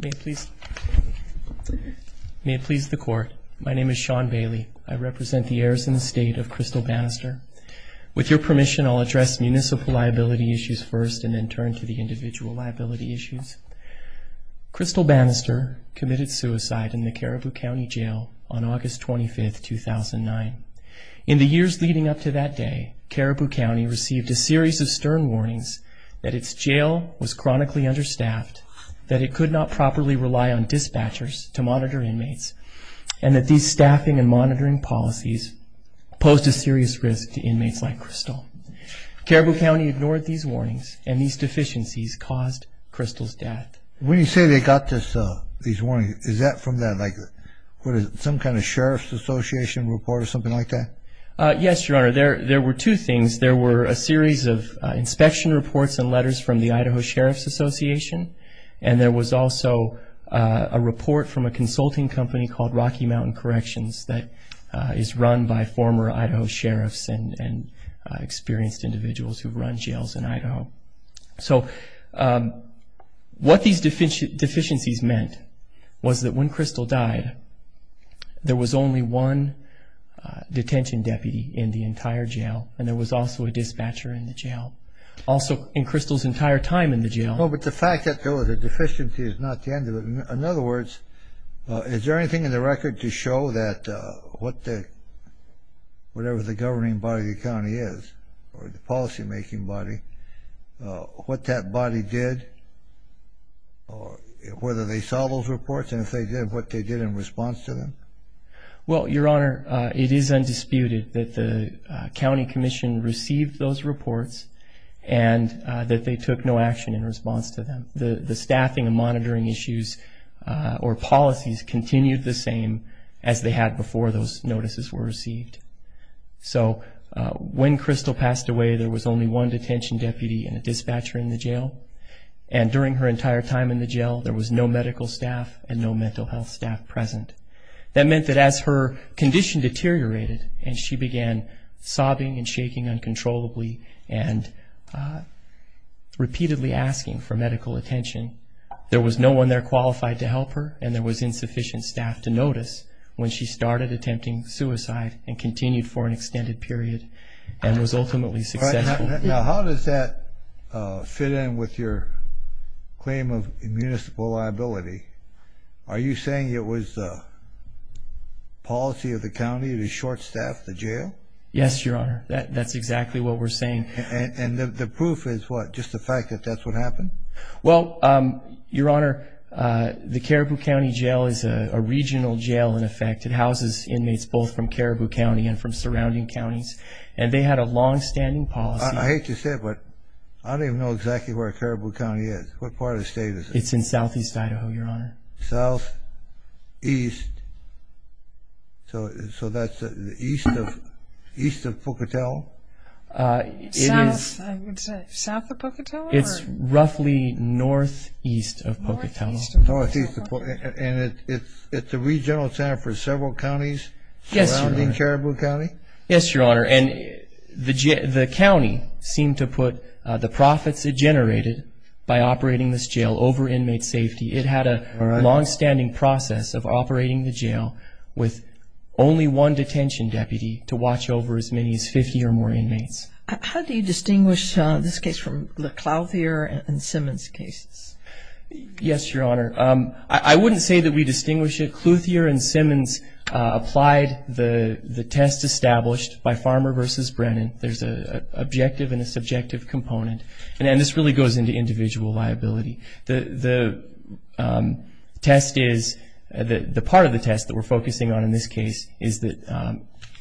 May it please the court. My name is Sean Bailey. I represent the heirs in the state of Crystal Bannister. With your permission, I'll address municipal liability issues first and then turn to the individual liability issues. Crystal Bannister committed suicide in the Caribou County jail on August 25, 2009. In the years leading up to that day, Caribou County received a series of stern warnings that its jail was chronically understaffed, that it could not properly rely on dispatchers to monitor inmates, and that these staffing and monitoring policies posed a serious risk to inmates like Crystal. Caribou County ignored these warnings, and these deficiencies caused Crystal's death. When you say they got these warnings, is that from some kind of sheriff's association report or something like that? Yes, Your Honor. There were two things. There were a series of inspection reports and letters from the Idaho Sheriff's Association, and there was also a report from a consulting company called Rocky Mountain Corrections that is run by former Idaho sheriffs and experienced individuals who run jails in Idaho. So what these deficiencies meant was that when Crystal died, there was only one detention deputy in the entire jail, and there was also a dispatcher in the jail, also in Crystal's entire time in the jail. But the fact that there was a deficiency is not the end of it. In other words, is there anything in the record to show that whatever the governing body of the county is, or the policy-making body, what that body did, whether they saw those reports, and if they did, what they did in response to them? Well, Your Honor, it is undisputed that the county commission received those reports and that they took no action in response to them. The staffing and monitoring issues or policies continued the same as they had before those notices were received. So when Crystal passed away, there was only one detention deputy and a dispatcher in the jail, and during her entire time in the jail, there was no and repeatedly asking for medical attention. There was no one there qualified to help her, and there was insufficient staff to notice when she started attempting suicide and continued for an extended period and was ultimately successful. Now, how does that fit in with your claim of municipal liability? Are you saying it was the policy of the And the proof is what? Just the fact that that's what happened? Well, Your Honor, the Caribou County Jail is a regional jail, in effect. It houses inmates both from Caribou County and from surrounding counties, and they had a long-standing policy. I hate to say it, but I don't even know exactly where Caribou County is. What part of the state is it? It's in southeast Idaho, Your Honor. Southeast. So that's east of Pocatello? It's roughly northeast of Pocatello. And it's a regional jail for several counties Yes, Your Honor. And the county seemed to put the profits it generated by operating this jail over inmate safety. It had a long-standing process of operating the jail with only one detention deputy to watch over as many as 50 or more inmates. How do you distinguish this case from the Clouthier and Simmons cases? Yes, Your Honor. I wouldn't say that we distinguish it. Clouthier and Simmons applied the test established by Farmer v. Brennan. There's an objective and a subjective component, and this really goes into individual liability. The part of the test that we're focusing on in this case is that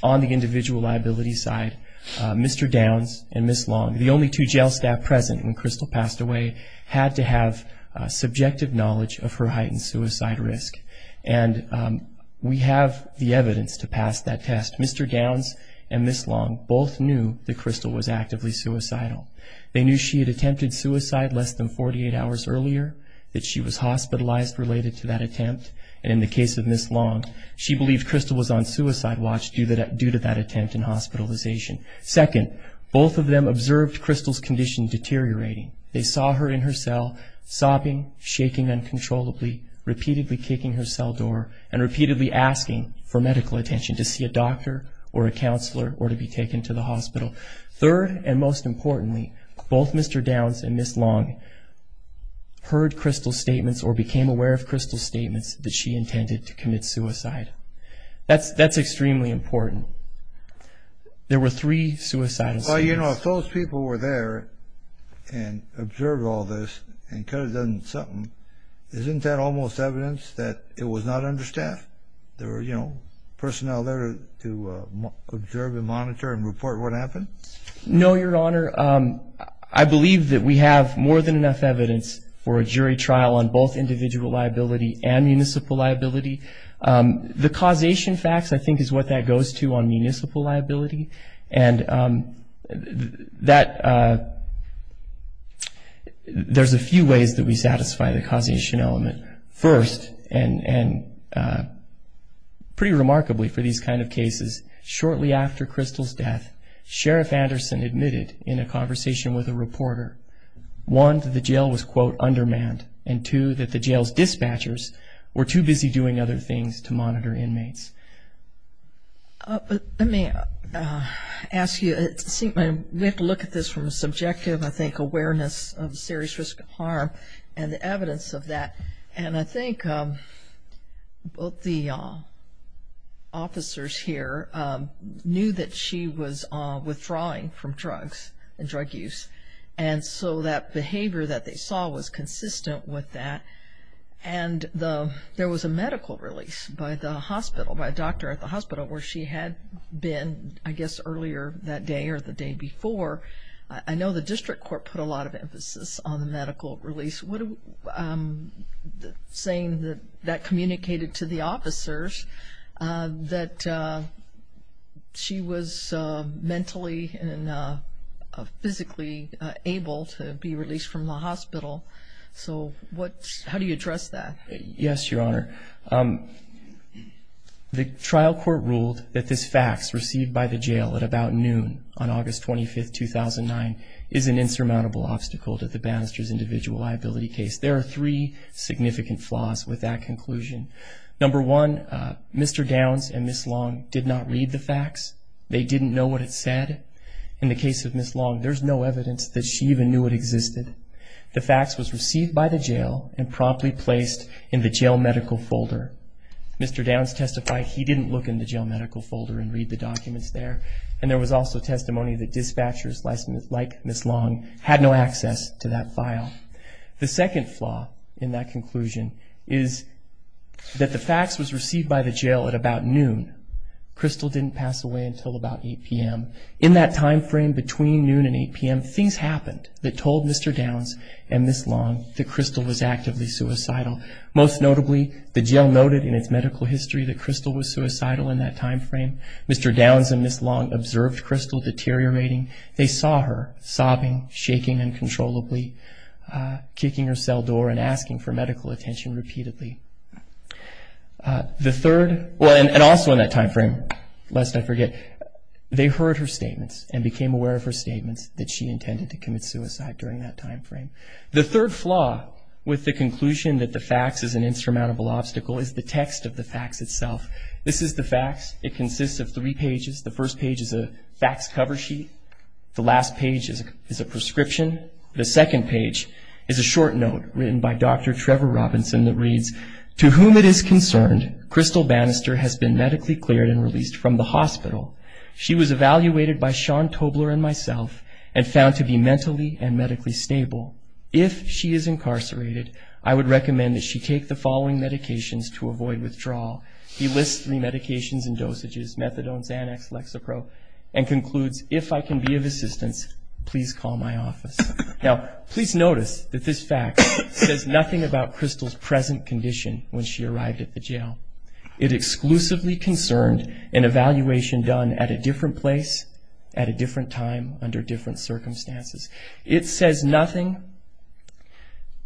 on the individual liability side, Mr. Downs and Ms. Long, the only two jail staff present when Crystal passed away, had to have subjective knowledge of her heightened suicide risk. And we have the evidence to pass that test. Mr. Downs and Ms. Long both knew that Crystal was actively suicidal. They knew she had attempted suicide less than 48 hours earlier, that she was hospitalized related to that attempt, and in the case of Ms. Long, she believed Crystal was on suicide watch due to that attempt and hospitalization. Second, both of them observed Crystal's condition deteriorating. They saw her in her cell, sobbing, shaking uncontrollably, repeatedly kicking her cell door, and repeatedly asking for medical attention to see a doctor or a counselor or to be taken to the hospital. Third, and most importantly, both Mr. Downs and Ms. Long heard Crystal's statements or became aware of Crystal's statements that she intended to commit suicide. That's extremely important. There were three suicidal statements. Well, you know, if those people were there and observed all this and could have done something, isn't that almost evidence that it was not understaffed? There were, you know, personnel there to observe and monitor and report what happened? No, Your Honor. I believe that we have more than enough evidence for a jury trial on both individual liability and municipal liability. The causation facts, I think, is what that goes to on municipal liability, and there's a few ways that we satisfy the causation element. First, and pretty remarkably for these kind of cases, shortly after Crystal's death, Sheriff Anderson admitted in a conversation with a reporter, one, that the jail was, quote, undermanned, and two, that the jail's dispatchers were too busy doing other things to monitor inmates. Let me ask you, we have to look at this from a subjective, I think, awareness of serious risk of harm and the evidence of that, and I think both the officers here knew that she was withdrawing from drugs and drug use, and so that behavior that they saw was consistent with that, and there was a medical release by the hospital. There was a medical release by a doctor at the hospital where she had been, I guess, earlier that day or the day before. I know the district court put a lot of emphasis on the medical release. Saying that that communicated to the officers that she was mentally and physically able to be released from the hospital, so how do you address that? Yes, Your Honor. The trial court ruled that this fax received by the jail at about noon on August 25, 2009 is an insurmountable obstacle to the banister's individual liability case. There are three significant flaws with that conclusion. Number one, Mr. Downs and Ms. Long did not read the fax. They didn't know what it said. In the case of Ms. Long, there's no evidence that she even knew it existed. The fax was received by the jail and promptly placed in the jail medical folder. Mr. Downs testified he didn't look in the jail medical folder and read the documents there, and there was also testimony that dispatchers like Ms. Long had no access to that file. The second flaw in that conclusion is that the fax was received by the jail at about noon. Crystal didn't pass away until about 8 p.m. In that time frame between noon and 8 p.m., things happened that told Mr. Downs and Ms. Long that Crystal was actively suicidal. Most notably, the jail noted in its medical history that Crystal was suicidal in that time frame. Mr. Downs and Ms. Long observed Crystal deteriorating. They saw her sobbing, shaking uncontrollably. Kicking her cell door and asking for medical attention repeatedly. The third, and also in that time frame, lest I forget, they heard her statements and became aware of her statements that she intended to commit suicide during that time frame. The third flaw with the conclusion that the fax is an insurmountable obstacle is the text of the fax itself. This is the fax. It consists of three pages. The first page is a fax cover sheet. The last page is a prescription. The second page is a short note written by Dr. Trevor Robinson that reads, To whom it is concerned, Crystal Bannister has been medically cleared and released from the hospital. She was evaluated by Sean Tobler and myself and found to be mentally and medically stable. If she is incarcerated, I would recommend that she take the following medications to avoid withdrawal. He lists the medications and dosages, methadone, Xanax, Lexapro, and concludes, if I can be of assistance, please call my office. Now, please notice that this fax says nothing about Crystal's present condition when she arrived at the jail. It exclusively concerned an evaluation done at a different place, at a different time, under different circumstances. It says nothing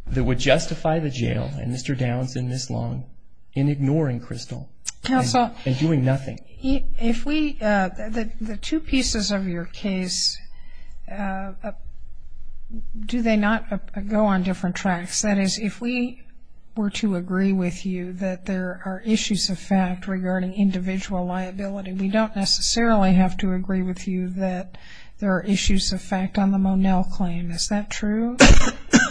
that would justify the jail and Mr. Downs and Ms. Long in ignoring Crystal and doing nothing. If we, the two pieces of your case, do they not go on different tracks? That is, if we were to agree with you that there are issues of fact regarding individual liability, we don't necessarily have to agree with you that there are issues of fact on the Monell claim. Is that true?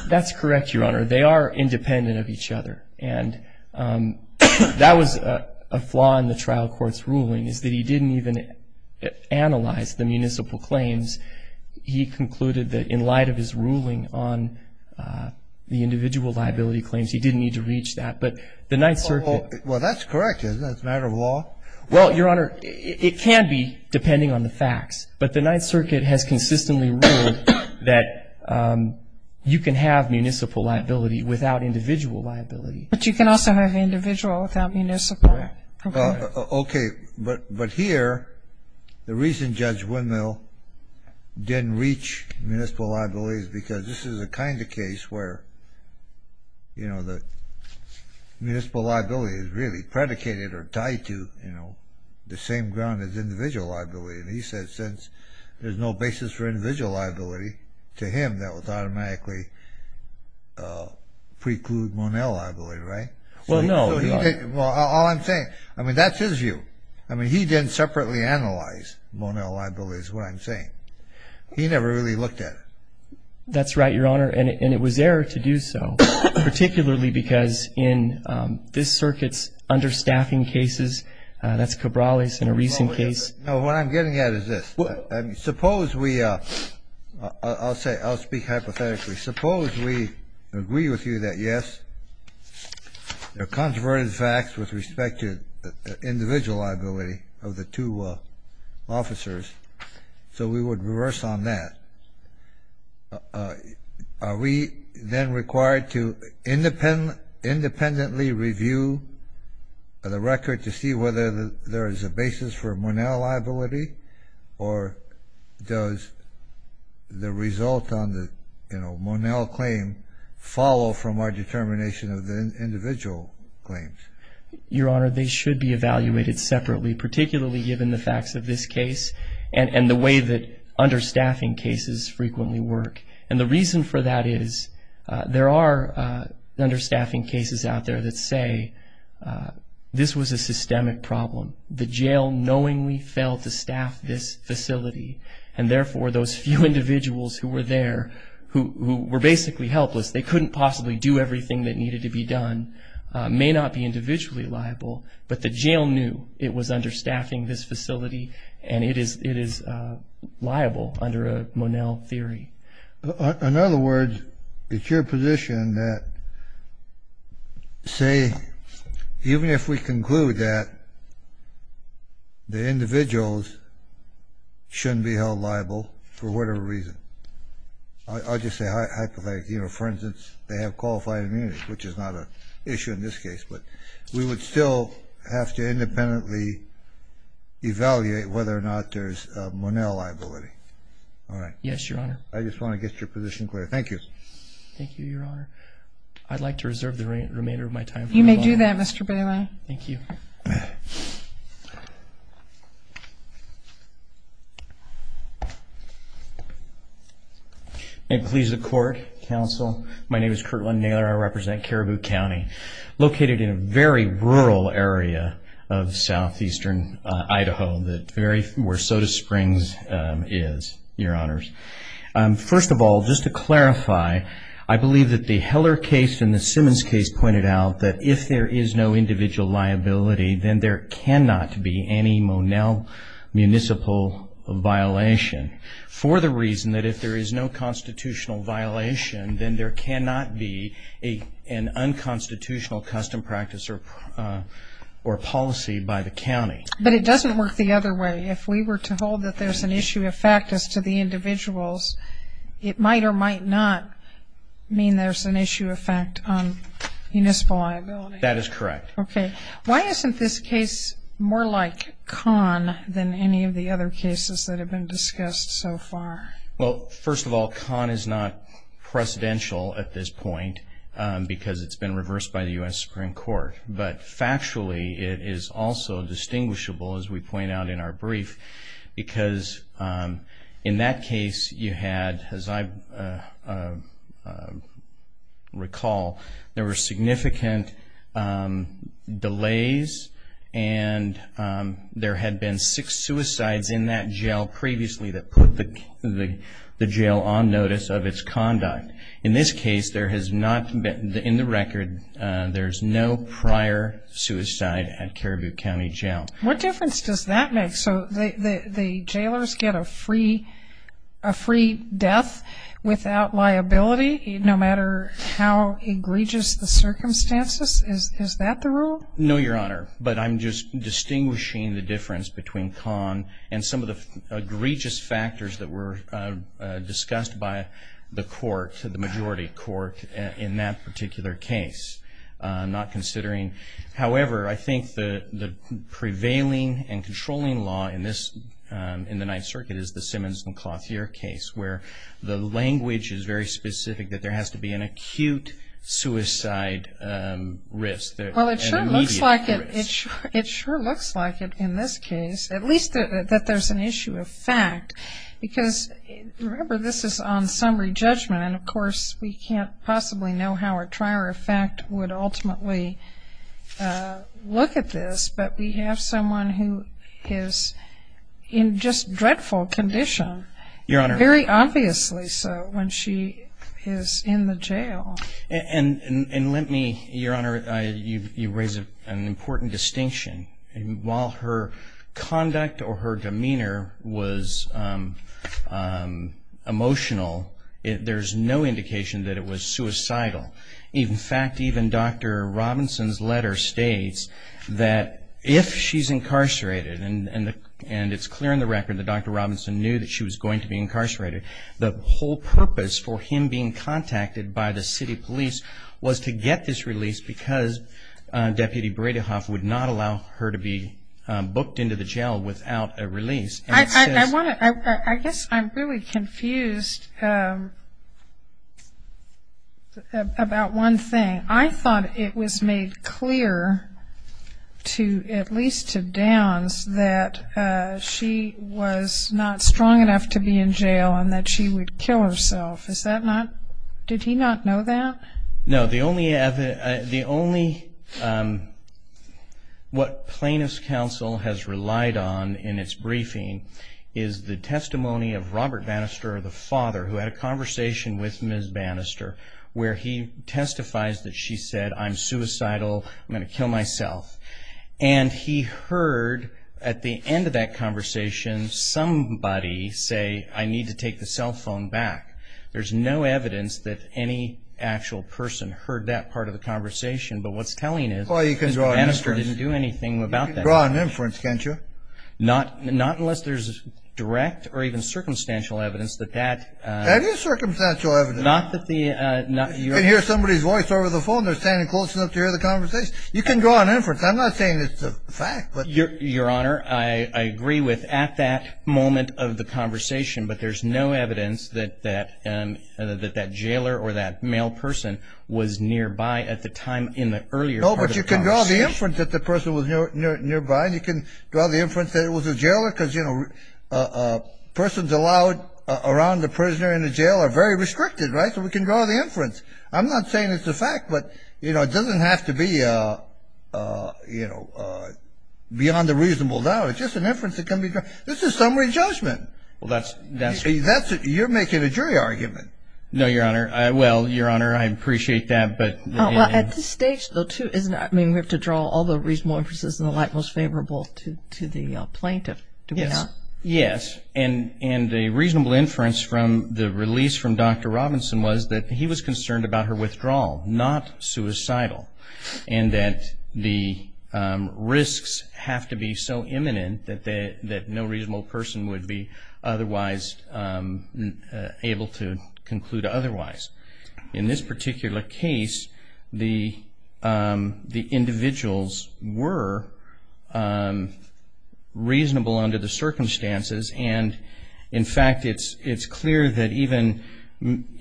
That's correct, Your Honor. They are independent of each other. And that was a flaw in the trial court's ruling is that he didn't even analyze the municipal claims. He concluded that in light of his ruling on the individual liability claims, he didn't need to reach that. But the Ninth Circuit... You can have municipal liability without individual liability. But you can also have individual without municipal. Okay. But here, the reason Judge Wendell didn't reach municipal liability is because this is the kind of case where, you know, the municipal liability is really predicated or tied to, you know, the same ground as individual liability. And he said since there's no basis for individual liability to him, that would automatically preclude Monell liability, right? Well, no. Well, all I'm saying, I mean, that's his view. I mean, he didn't separately analyze Monell liability is what I'm saying. He never really looked at it. That's right, Your Honor. And it was error to do so, particularly because in this circuit's understaffing cases, that's Cabrales in a recent case. No, what I'm getting at is this. Suppose we... I'll say, I'll speak hypothetically. Suppose we agree with you that, yes, there are controverted facts with respect to individual liability of the two officers. So we would reverse on that. Are we then required to independently review the record to see whether there is a basis for Monell liability? Or does the result on the, you know, Monell claim follow from our determination of the individual claims? Your Honor, they should be evaluated separately, particularly given the facts of this case and the way that understaffing cases frequently work. And the reason for that is there are understaffing cases out there that say this was a systemic problem. The jail knowingly failed to staff this facility. And therefore, those few individuals who were there, who were basically helpless, they couldn't possibly do everything that needed to be done, may not be individually liable. But the jail knew it was understaffing this facility, and it is liable under a Monell theory. In other words, it's your position that, say, even if we conclude that the individuals shouldn't be held liable for whatever reason, I'll just say hypothetically, you know, for instance, they have qualified immunity, which is not an issue in this case, but we would still have to independently evaluate whether or not there's a Monell liability. All right. Yes, Your Honor. I just want to get your position clear. Thank you. Thank you, Your Honor. I'd like to reserve the remainder of my time. You may do that, Mr. Bailey. Thank you. May it please the Court, Counsel, my name is Curt Lund-Naylor. I represent Caribou County, located in a very rural area of southeastern Idaho, where Soda Springs is, Your Honors. First of all, just to clarify, I believe that the Heller case and the Simmons case pointed out that if there is no individual liability, then there cannot be any Monell municipal violation for the reason that if there is no constitutional violation, then there cannot be an unconstitutional custom practice or policy by the county. But it doesn't work the other way. If we were to hold that there's an issue of fact as to the individuals, it might or might not mean there's an issue of fact on municipal liability. That is correct. Okay. Why isn't this case more like Kahn than any of the other cases that have been discussed so far? Well, first of all, Kahn is not precedential at this point because it's been reversed by the U.S. Supreme Court. But factually, it is also distinguishable, as we point out in our brief, because in that case you had, as I recall, there were significant delays and there had been six suicides in that jail previously that put the jail on notice of its conduct. In this case, there has not been, in the record, there's no prior suicide at Caribou County Jail. What difference does that make? So the jailers get a free death without liability, no matter how egregious the circumstances? Is that the rule? No, Your Honor. But I'm just distinguishing the difference between Kahn and some of the egregious factors that were discussed by the court, the majority court, in that particular case. However, I think the prevailing and controlling law in the Ninth Circuit is the Simmons and Clothier case, where the language is very specific that there has to be an acute suicide risk, an immediate risk. It sure looks like it in this case, at least that there's an issue of fact. Because, remember, this is on summary judgment, and, of course, we can't possibly know how a trier of fact would ultimately look at this. But we have someone who is in just dreadful condition, very obviously so, when she is in the jail. And let me, Your Honor, you raise an important distinction. While her conduct or her demeanor was emotional, there's no indication that it was suicidal. In fact, even Dr. Robinson's letter states that if she's incarcerated, and it's clear in the record that Dr. Robinson knew that she was going to be incarcerated, the whole purpose for him being contacted by the city police was to get this release because Deputy Bradyhoff would not allow her to be booked into the jail without a release. I guess I'm really confused about one thing. I thought it was made clear, at least to Downs, that she was not strong enough to be in jail and that she would kill herself. Did he not know that? No. The only, what Plaintiff's Counsel has relied on in its briefing is the testimony of Robert Bannister, the father, who had a conversation with Ms. Bannister, where he testifies that she said, I'm suicidal, I'm going to kill myself. And he heard, at the end of that conversation, somebody say, I need to take the cell phone back. There's no evidence that any actual person heard that part of the conversation, but what's telling is that Bannister didn't do anything about that. Well, you can draw an inference. You can draw an inference, can't you? Not unless there's direct or even circumstantial evidence that that... That is circumstantial evidence. You can hear somebody's voice over the phone. They're standing close enough to hear the conversation. You can draw an inference. I'm not saying it's a fact, but... Your Honor, I agree with, at that moment of the conversation, but there's no evidence that that jailer or that male person was nearby at the time in the earlier part of the conversation. You can draw the inference that the person was nearby, and you can draw the inference that it was a jailer, because, you know, persons allowed around the prisoner in a jail are very restricted, right? So we can draw the inference. I'm not saying it's a fact, but, you know, it doesn't have to be, you know, beyond a reasonable doubt. It's just an inference that can be drawn. This is summary judgment. Well, that's... You're making a jury argument. No, Your Honor. Well, Your Honor, I appreciate that, but... Well, at this stage, though, too, isn't... I mean, we have to draw all the reasonable inferences in the light most favorable to the plaintiff, do we not? Yes. Yes. And a reasonable inference from the release from Dr. Robinson was that he was concerned about her withdrawal, not suicidal, and that the risks have to be so imminent that no reasonable person would be otherwise able to conclude otherwise. In this particular case, the individuals were reasonable under the circumstances, and, in fact, it's clear that even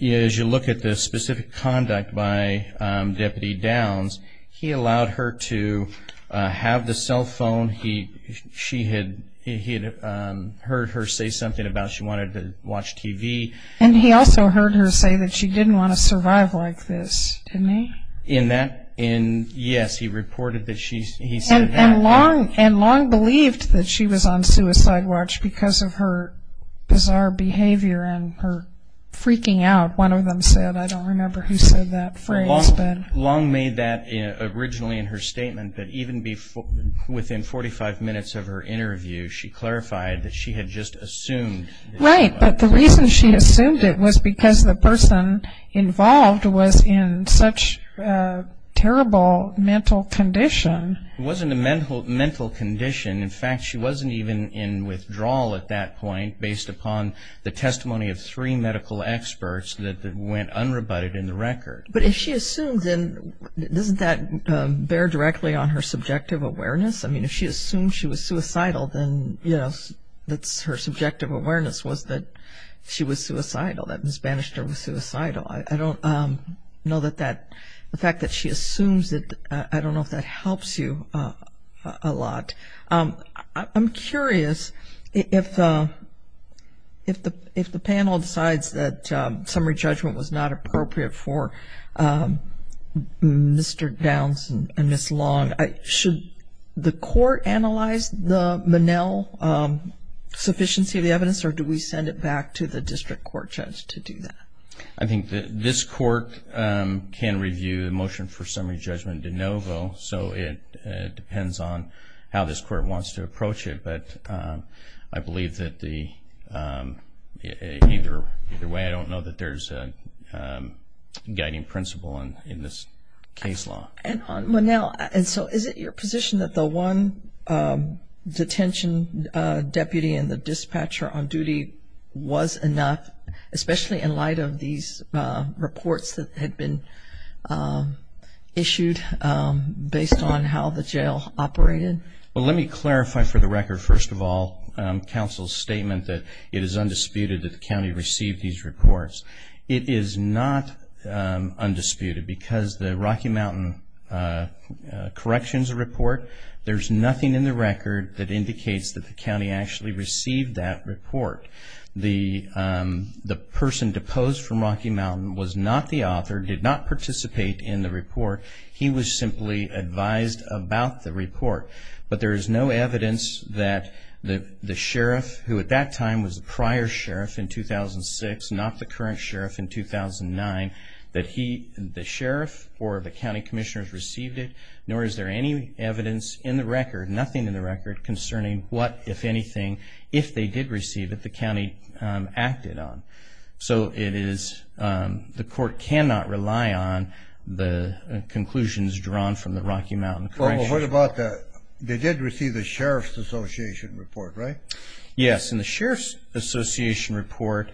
as you look at the specific conduct by Deputy Downs, he allowed her to have the cell phone. She had heard her say something about she wanted to watch TV. And he also heard her say that she didn't want to survive like this, didn't he? In that... Yes, he reported that she said that. And Long believed that she was on suicide watch because of her bizarre behavior and her freaking out. One of them said... I don't remember who said that phrase, but... Long made that originally in her statement, but even within 45 minutes of her interview, she clarified that she had just assumed... Right, but the reason she assumed it was because the person involved was in such terrible mental condition. It wasn't a mental condition. In fact, she wasn't even in withdrawal at that point based upon the testimony of three medical experts that went unrebutted in the record. But if she assumed, then doesn't that bear directly on her subjective awareness? I mean, if she assumed she was suicidal, then, you know, her subjective awareness was that she was suicidal, that Ms. Bannister was suicidal. I don't know that that... The fact that she assumes it, I don't know if that helps you a lot. I'm curious if the panel decides that summary judgment was not appropriate for Mr. Downs and Ms. Long, should the court analyze the Monell sufficiency of the evidence or do we send it back to the district court judge to do that? I think that this court can review the motion for summary judgment de novo, so it depends on how this court wants to approach it. But I believe that either way, I don't know that there's a guiding principle in this case law. And on Monell, and so is it your position that the one detention deputy and the dispatcher on duty was enough, especially in light of these reports that had been issued based on how the jail operated? Well, let me clarify for the record, first of all, counsel's statement that it is undisputed that the county received these reports. It is not undisputed because the Rocky Mountain corrections report, there's nothing in the record that indicates that the county actually received that report. The person deposed from Rocky Mountain was not the author, did not participate in the report. He was simply advised about the report. But there is no evidence that the sheriff, who at that time was the prior sheriff in 2006, not the current sheriff in 2009, that the sheriff or the county commissioners received it, nor is there any evidence in the record, nothing in the record, concerning what, if anything, if they did receive it, the county acted on. So it is, the court cannot rely on the conclusions drawn from the Rocky Mountain corrections report. Well, what about the, they did receive the Sheriff's Association report, right? Yes, and the Sheriff's Association report,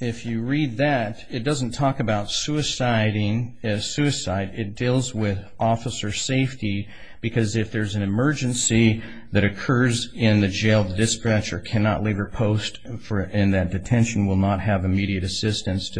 if you read that, it doesn't talk about suiciding as suicide. It deals with officer safety because if there's an emergency that occurs in the jail, the dispatcher cannot leave her post and that detention will not have immediate assistance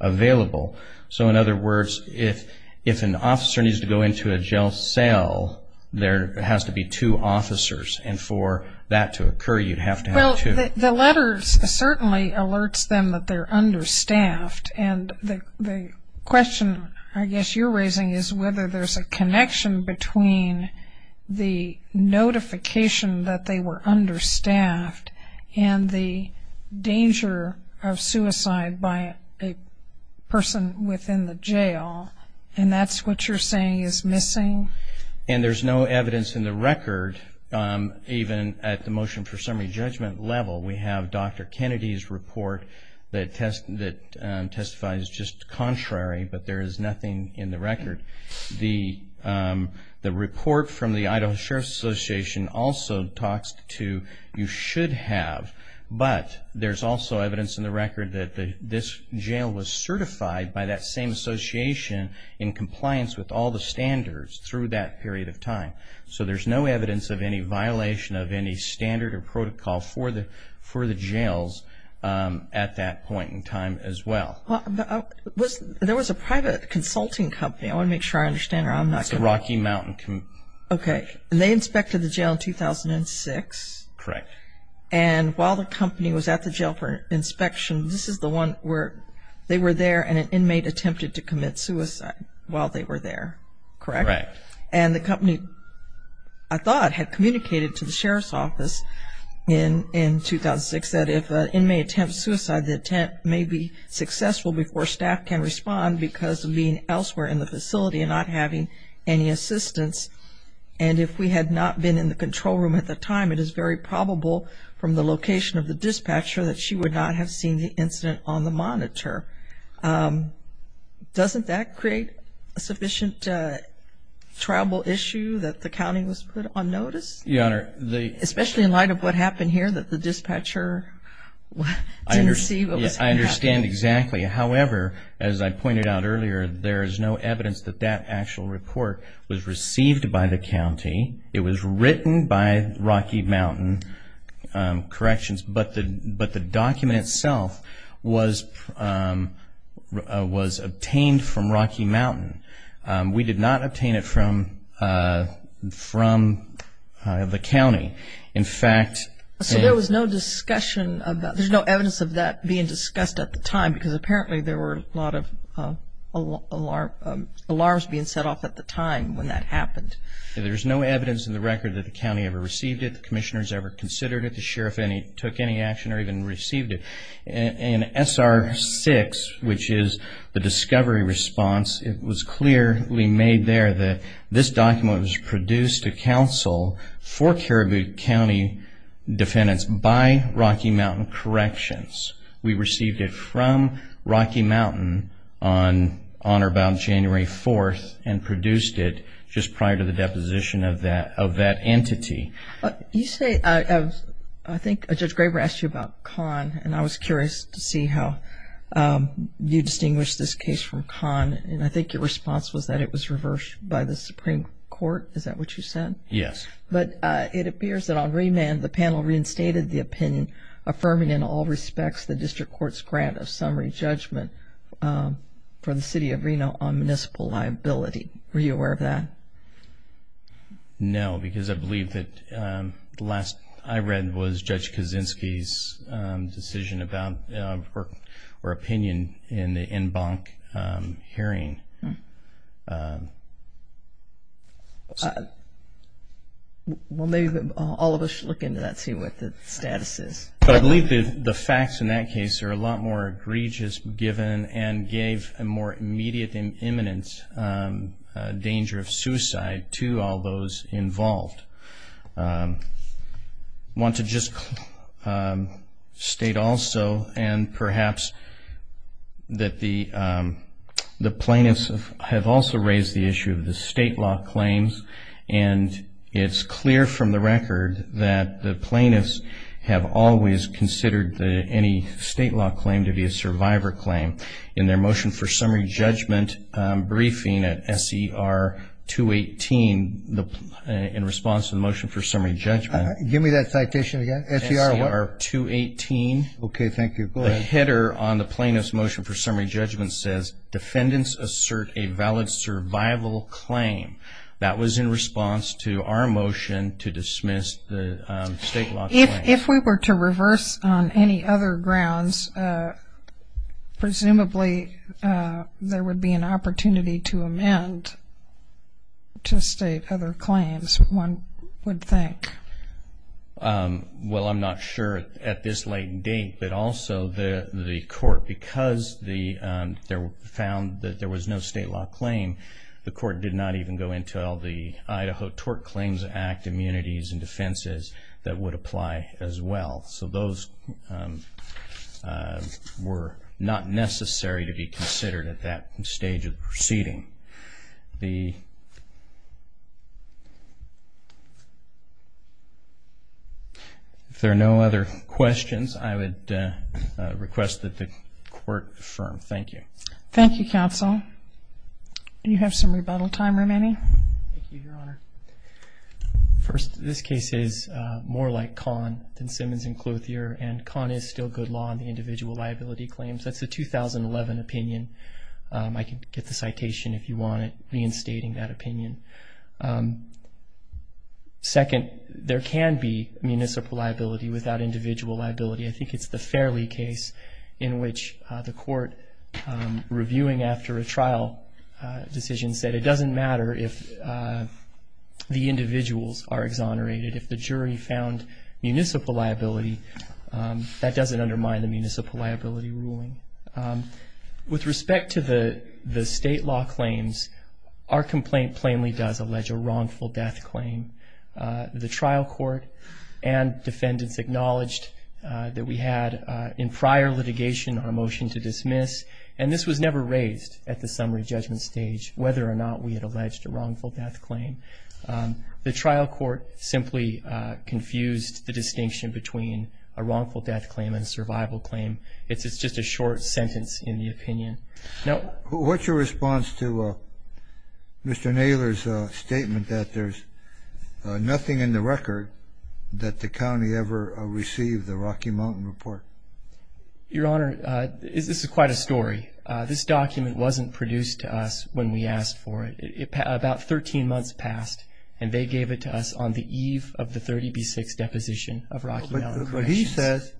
available. So, in other words, if an officer needs to go into a jail cell, there has to be two officers, and for that to occur, you'd have to have two. Well, the letter certainly alerts them that they're understaffed, and the question I guess you're raising is whether there's a connection between the notification that they were understaffed and the danger of suicide by a person within the jail, and that's what you're saying is missing? And there's no evidence in the record, even at the motion for summary judgment level. We have Dr. Kennedy's report that testifies just contrary, but there is nothing in the record. The report from the Idaho Sheriff's Association also talks to you should have, but there's also evidence in the record that this jail was certified by that same association in compliance with all the standards through that period of time. So, there's no evidence of any violation of any standard or protocol for the jails at that point in time as well. There was a private consulting company. I want to make sure I understand, or I'm not going to. It's the Rocky Mountain. Okay. And they inspected the jail in 2006? Correct. And while the company was at the jail for inspection, this is the one where they were there and an inmate attempted to commit suicide while they were there, correct? Correct. And the company, I thought, had communicated to the sheriff's office in 2006 that if an inmate attempted suicide, the attempt may be successful before staff can respond because of being elsewhere in the facility and not having any assistance. And if we had not been in the control room at the time, it is very probable from the location of the dispatcher that she would not have seen the incident on the monitor. Doesn't that create a sufficient tribal issue that the county was put on notice? Yes, Your Honor. Especially in light of what happened here that the dispatcher didn't see what was happening? I understand exactly. However, as I pointed out earlier, there is no evidence that that actual report was received by the county. It was written by Rocky Mountain Corrections, but the document itself was obtained from Rocky Mountain. We did not obtain it from the county. In fact — So there was no discussion about — there's no evidence of that being discussed at the time because apparently there were a lot of alarms being set off at the time when that happened. There's no evidence in the record that the county ever received it, the commissioners ever considered it, the sheriff took any action or even received it. In SR 6, which is the discovery response, it was clearly made there that this document was produced to counsel for Caribou County defendants by Rocky Mountain Corrections. We received it from Rocky Mountain on or about January 4th and produced it just prior to the deposition of that entity. You say — I think Judge Graber asked you about Kahn, and I was curious to see how you distinguish this case from Kahn, and I think your response was that it was reversed by the Supreme Court. Is that what you said? Yes. But it appears that on remand the panel reinstated the opinion affirming in all respects the district court's grant of summary judgment for the city of Reno on municipal liability. Were you aware of that? No, because I believe that the last I read was Judge Kaczynski's decision about or opinion in the en banc hearing. Well, maybe all of us should look into that and see what the status is. I believe the facts in that case are a lot more egregious given and gave a more immediate and imminent danger of suicide to all those involved. I want to just state also and perhaps that the plaintiffs have also raised the issue of the state law claims, and it's clear from the record that the plaintiffs have always considered any state law claim to be a survivor claim in their motion for summary judgment briefing at S.E.R. 218 in response to the motion for summary judgment. Give me that citation again. S.E.R. what? S.E.R. 218. Okay. Thank you. Go ahead. The header on the plaintiff's motion for summary judgment says, defendants assert a valid survival claim. That was in response to our motion to dismiss the state law claims. If we were to reverse on any other grounds, presumably there would be an opportunity to amend to state other claims, one would think. Well, I'm not sure at this late date, but also the court, because they found that there was no state law claim, the court did not even go into all the Idaho Tort Claims Act immunities and defenses that would apply as well. So those were not necessary to be considered at that stage of the proceeding. If there are no other questions, I would request that the court affirm. Thank you. Thank you, counsel. You have some rebuttal time remaining. Thank you, Your Honor. First, this case is more like Kahn than Simmons and Clothier, and Kahn is still good law on the individual liability claims. That's a 2011 opinion. I can get the citation if you want it, reinstating that opinion. Second, there can be municipal liability without individual liability. I think it's the Fairley case in which the court, reviewing after a trial decision, said it doesn't matter if the individuals are exonerated. If the jury found municipal liability, that doesn't undermine the municipal liability ruling. With respect to the state law claims, our complaint plainly does allege a wrongful death claim. The trial court and defendants acknowledged that we had in prior litigation our motion to dismiss, and this was never raised at the summary judgment stage, whether or not we had alleged a wrongful death claim. The trial court simply confused the distinction between a wrongful death claim and a survival claim. It's just a short sentence in the opinion. Now, what's your response to Mr. Naylor's statement that there's nothing in the record that the county ever received the Rocky Mountain report? Your Honor, this is quite a story. This document wasn't produced to us when we asked for it. About 13 months passed, and they gave it to us on the eve of the 30B6 deposition of Rocky Mountain. But he says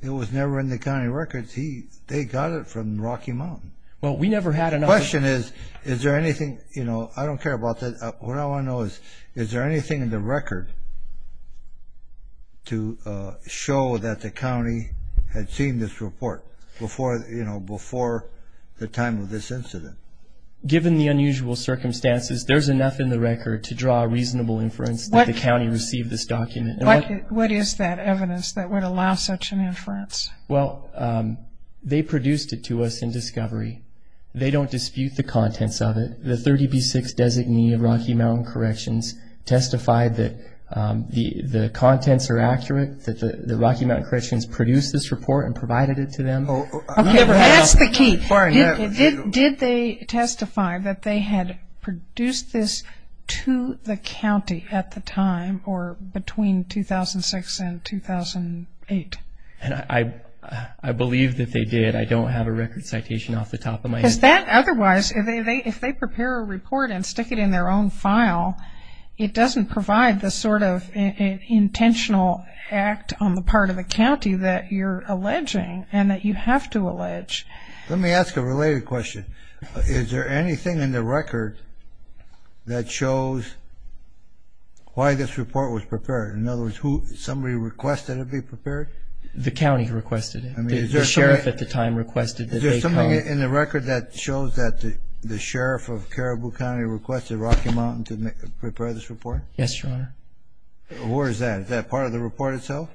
it was never in the county records. They got it from Rocky Mountain. Well, we never had enough. The question is, is there anything, you know, I don't care about that. What I want to know is, is there anything in the record to show that the county had seen this report, you know, before the time of this incident? Given the unusual circumstances, there's enough in the record to draw a reasonable inference that the county received this document. What is that evidence that would allow such an inference? Well, they produced it to us in discovery. They don't dispute the contents of it. Did the 30B6 designee of Rocky Mountain Corrections testify that the contents are accurate, that the Rocky Mountain Corrections produced this report and provided it to them? Okay, that's the key. Did they testify that they had produced this to the county at the time or between 2006 and 2008? I believe that they did. I don't have a record citation off the top of my head. Is that otherwise, if they prepare a report and stick it in their own file, it doesn't provide the sort of intentional act on the part of the county that you're alleging and that you have to allege. Let me ask a related question. Is there anything in the record that shows why this report was prepared? In other words, somebody requested it be prepared? The county requested it. The sheriff at the time requested that they come. In the record that shows that the sheriff of Caribou County requested Rocky Mountain to prepare this report? Yes, Your Honor. Where is that? Is that part of the report itself?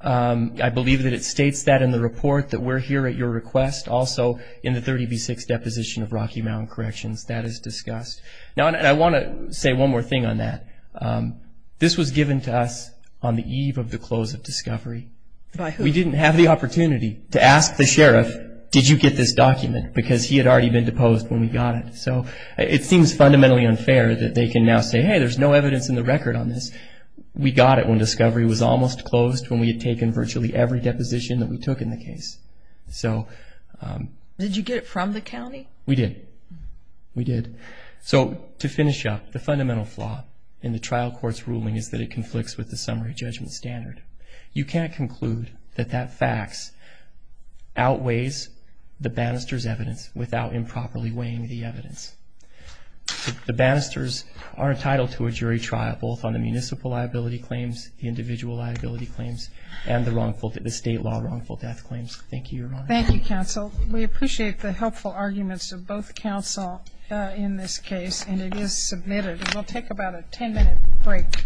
I believe that it states that in the report that we're here at your request, also in the 30B6 deposition of Rocky Mountain Corrections. That is discussed. Now, I want to say one more thing on that. This was given to us on the eve of the close of discovery. By who? We didn't have the opportunity to ask the sheriff, did you get this document? Because he had already been deposed when we got it. So it seems fundamentally unfair that they can now say, hey, there's no evidence in the record on this. We got it when discovery was almost closed when we had taken virtually every deposition that we took in the case. Did you get it from the county? We did. We did. So to finish up, the fundamental flaw in the trial court's ruling is that it conflicts with the summary judgment standard. You can't conclude that that fax outweighs the banister's evidence without improperly weighing the evidence. The banisters are entitled to a jury trial, both on the municipal liability claims, the individual liability claims, and the state law wrongful death claims. Thank you, Your Honor. Thank you, counsel. We appreciate the helpful arguments of both counsel in this case, and it is submitted. We'll take about a ten-minute break.